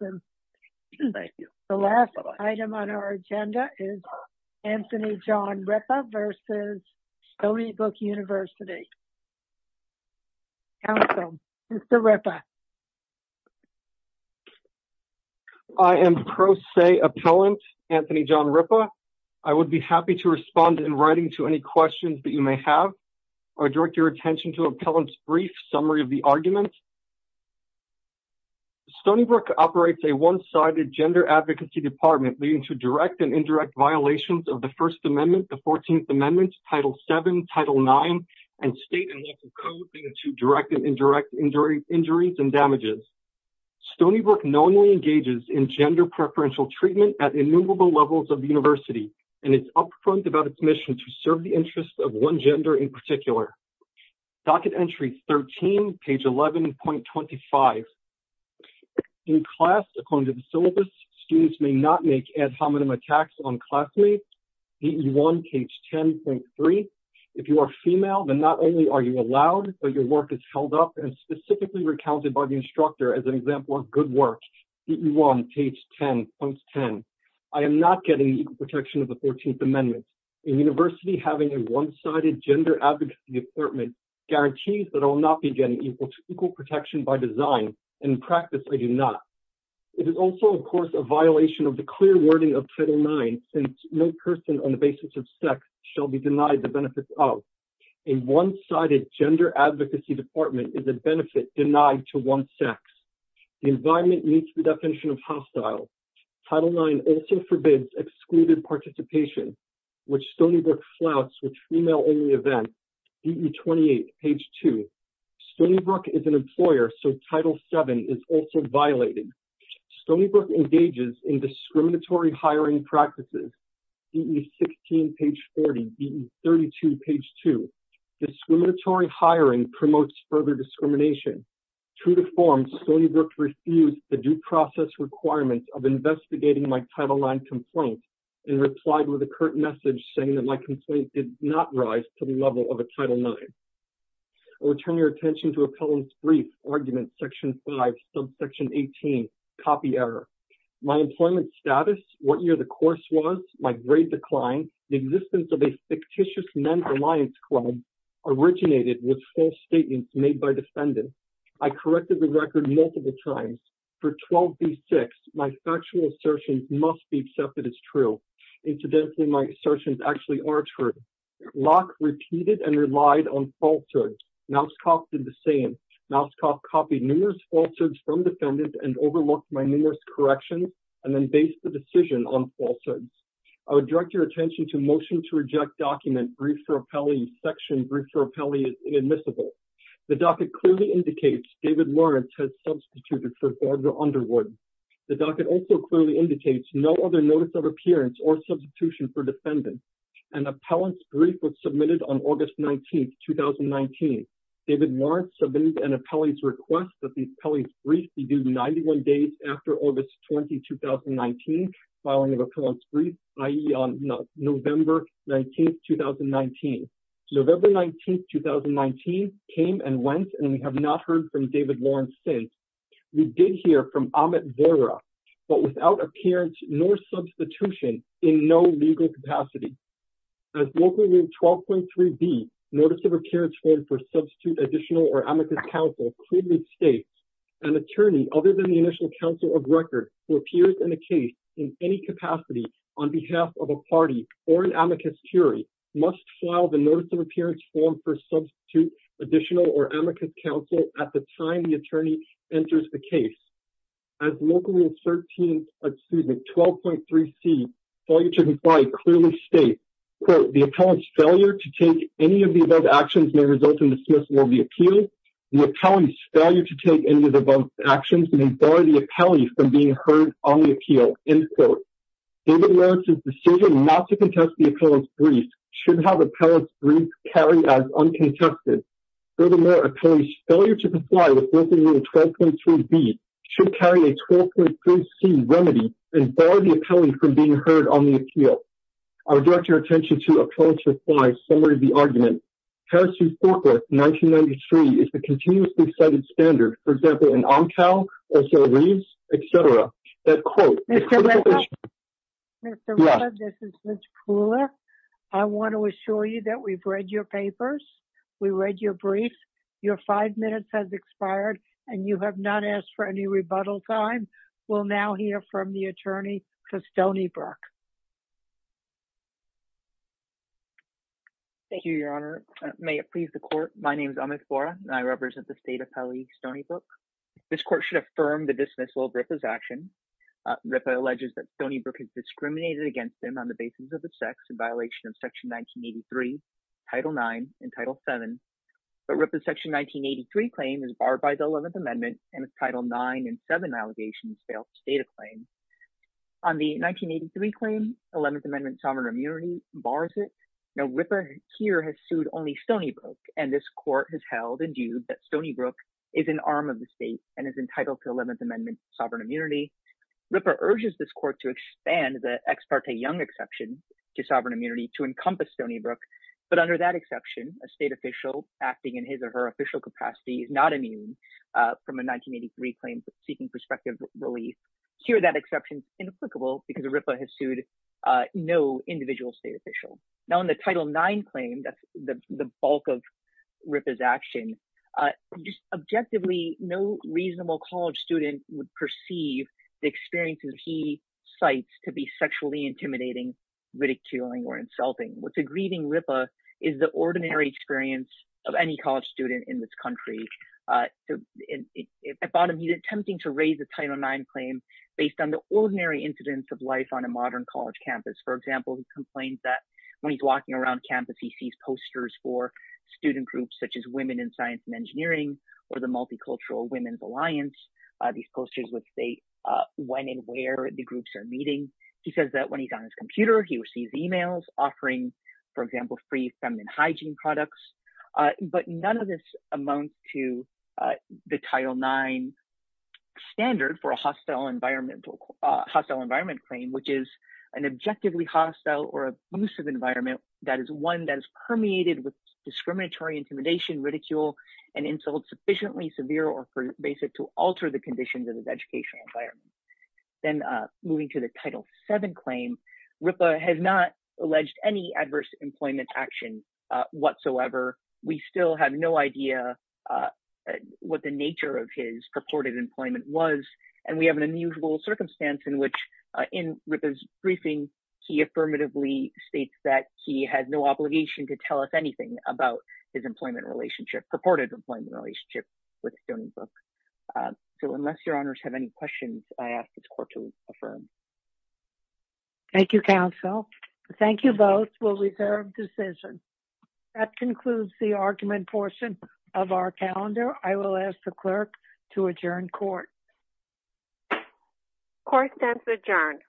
and the last item on our agenda is Anthony John Rippa versus Stony Brook University. I am pro se appellant Anthony John Rippa. I would be happy to respond in writing to any questions that you may have or direct your attention to appellant's brief summary of the one-sided gender advocacy department leading to direct and indirect violations of the first amendment the 14th amendment title 7 title 9 and state and local code leading to direct and indirect injury injuries and damages. Stony Brook nominally engages in gender preferential treatment at innumerable levels of the university and it's upfront about its mission to serve the students may not make ad hominem attacks on classmates. If you are female then not only are you allowed but your work is held up and specifically recounted by the instructor as an example of good work. I am not getting equal protection of the 14th amendment. The university having a one-sided gender advocacy department guarantees that I will not be getting equal protection by design and in practice I do not. It is also of course a violation of the clear wording of title 9 since no person on the basis of sex shall be denied the benefits of a one-sided gender advocacy department is a benefit denied to one sex. The environment meets the definition of hostile title 9 also forbids excluded participation which Stony Brook flouts with an employer so title 7 is also violated. Stony Brook engages in discriminatory hiring practices DE 16 page 40 DE 32 page 2. Discriminatory hiring promotes further discrimination. True to form Stony Brook refused the due process requirements of investigating my title 9 complaint and replied with a curt message saying that my complaint did not rise to the level of a title 9. I will turn your attention to a brief argument section 5 subsection 18 copy error. My employment status, what year the course was, my grade decline, the existence of a fictitious men's alliance club originated with false statements made by defendants. I corrected the record multiple times. For 12B6 my factual assertions must be accepted as true. Incidentally my assertions actually are true. Locke repeated and relied on falsehoods. Mauskopf did the same. Mauskopf copied numerous falsehoods from defendants and overlooked my numerous corrections and then based the decision on falsehoods. I would direct your attention to motion to reject document brief for appellee section brief for appellee is inadmissible. The docket clearly indicates David Lawrence has substituted for Barbara Underwood. The docket also clearly indicates no other notice of appearance or substitution for defendants. An appellant's brief was submitted on August 19, 2019. David Lawrence submitted an appellee's request that the appellee's brief be due 91 days after August 20, 2019 filing of appellant's brief i.e. on November 19, 2019. November 19, 2019 came and went and we have not heard from David Lawrence since. We did hear from Amit Vora but without appearance nor substitution in no legal capacity. As local rule 12.3b notice of appearance form for substitute additional or amicus counsel clearly states an attorney other than the initial counsel of record who appears in a case in any capacity on behalf of a party or an amicus curiae must file the notice of appearance form for substitute additional or amicus counsel. As local rule 12.3c failure to comply clearly states the appellant's failure to take any of the above actions may result in dismissal of the appeal. The appellant's failure to take any of the above actions may bar the appellee from being heard on the appeal. David Lawrence's decision not to contest the appellant's brief should have appellant's brief carry as uncontested. Furthermore, appellant's failure to comply with local rule 12.3b should carry a 12.3c remedy and bar the appellant from being heard on the appeal. I would direct your attention to appellant's reply summary of the argument. Harris v. Fortworth 1993 is the continuously cited standard for example in Amcal, S.L. Reeves, etc. Mr. Ritter, this is Ms. Kuhler. I want to assure you that we've read your papers, we read your brief, your five minutes has expired, and you have not asked for any rebuttal time. We'll now hear from the attorney Kastoni Burke. Thank you, your honor. May it please the court, my name is Amit Vora and I represent the state affirm the dismissal of Ripa's action. Ripa alleges that Kastoni Burke is discriminated against him on the basis of the sex in violation of section 1983, title 9, and title 7. But Ripa's section 1983 claim is barred by the 11th amendment and its title 9 and 7 allegations fail to state a claim. On the 1983 claim, 11th amendment sovereign immunity bars it. Now Ripa here has sued only Kastoni Burke and this court has held and viewed that Kastoni Burke is an arm of the 11th amendment sovereign immunity. Ripa urges this court to expand the ex parte young exception to sovereign immunity to encompass Kastoni Burke, but under that exception a state official acting in his or her official capacity is not immune from a 1983 claim seeking prospective relief. Here that exception is inapplicable because Ripa has sued no individual state official. Now in the title 9 claim, that's the bulk of Ripa's action, just objectively no reasonable college student would perceive the experiences he cites to be sexually intimidating, ridiculing, or insulting. What's aggrieving Ripa is the ordinary experience of any college student in this country. At bottom, he's attempting to raise the title 9 claim based on the ordinary incidents of life on a modern college campus. For example, he complains that when he's walking around campus he sees posters for student groups such as women in science and engineering or the multicultural women's alliance. These posters would say when and where the groups are meeting. He says that when he's on his computer he receives emails offering, for example, free feminine hygiene products, but none of this amounts to the title 9 standard for a hostile environmental hostile environment claim which is an objectively hostile or abusive environment that is one that discriminatory, intimidation, ridicule, and insult sufficiently severe or basic to alter the conditions of his educational environment. Then moving to the title 7 claim, Ripa has not alleged any adverse employment action whatsoever. We still have no idea what the nature of his purported employment was and we have an unusual circumstance in which in Ripa's briefing he affirmatively states that he has no obligation to tell us anything about his employment relationship, purported employment relationship with student groups. So unless your honors have any questions, I ask this court to affirm. Thank you, counsel. Thank you both. We'll reserve decision. That concludes the argument portion of our calendar. I will ask the clerk to adjourn court. Court steps adjourned.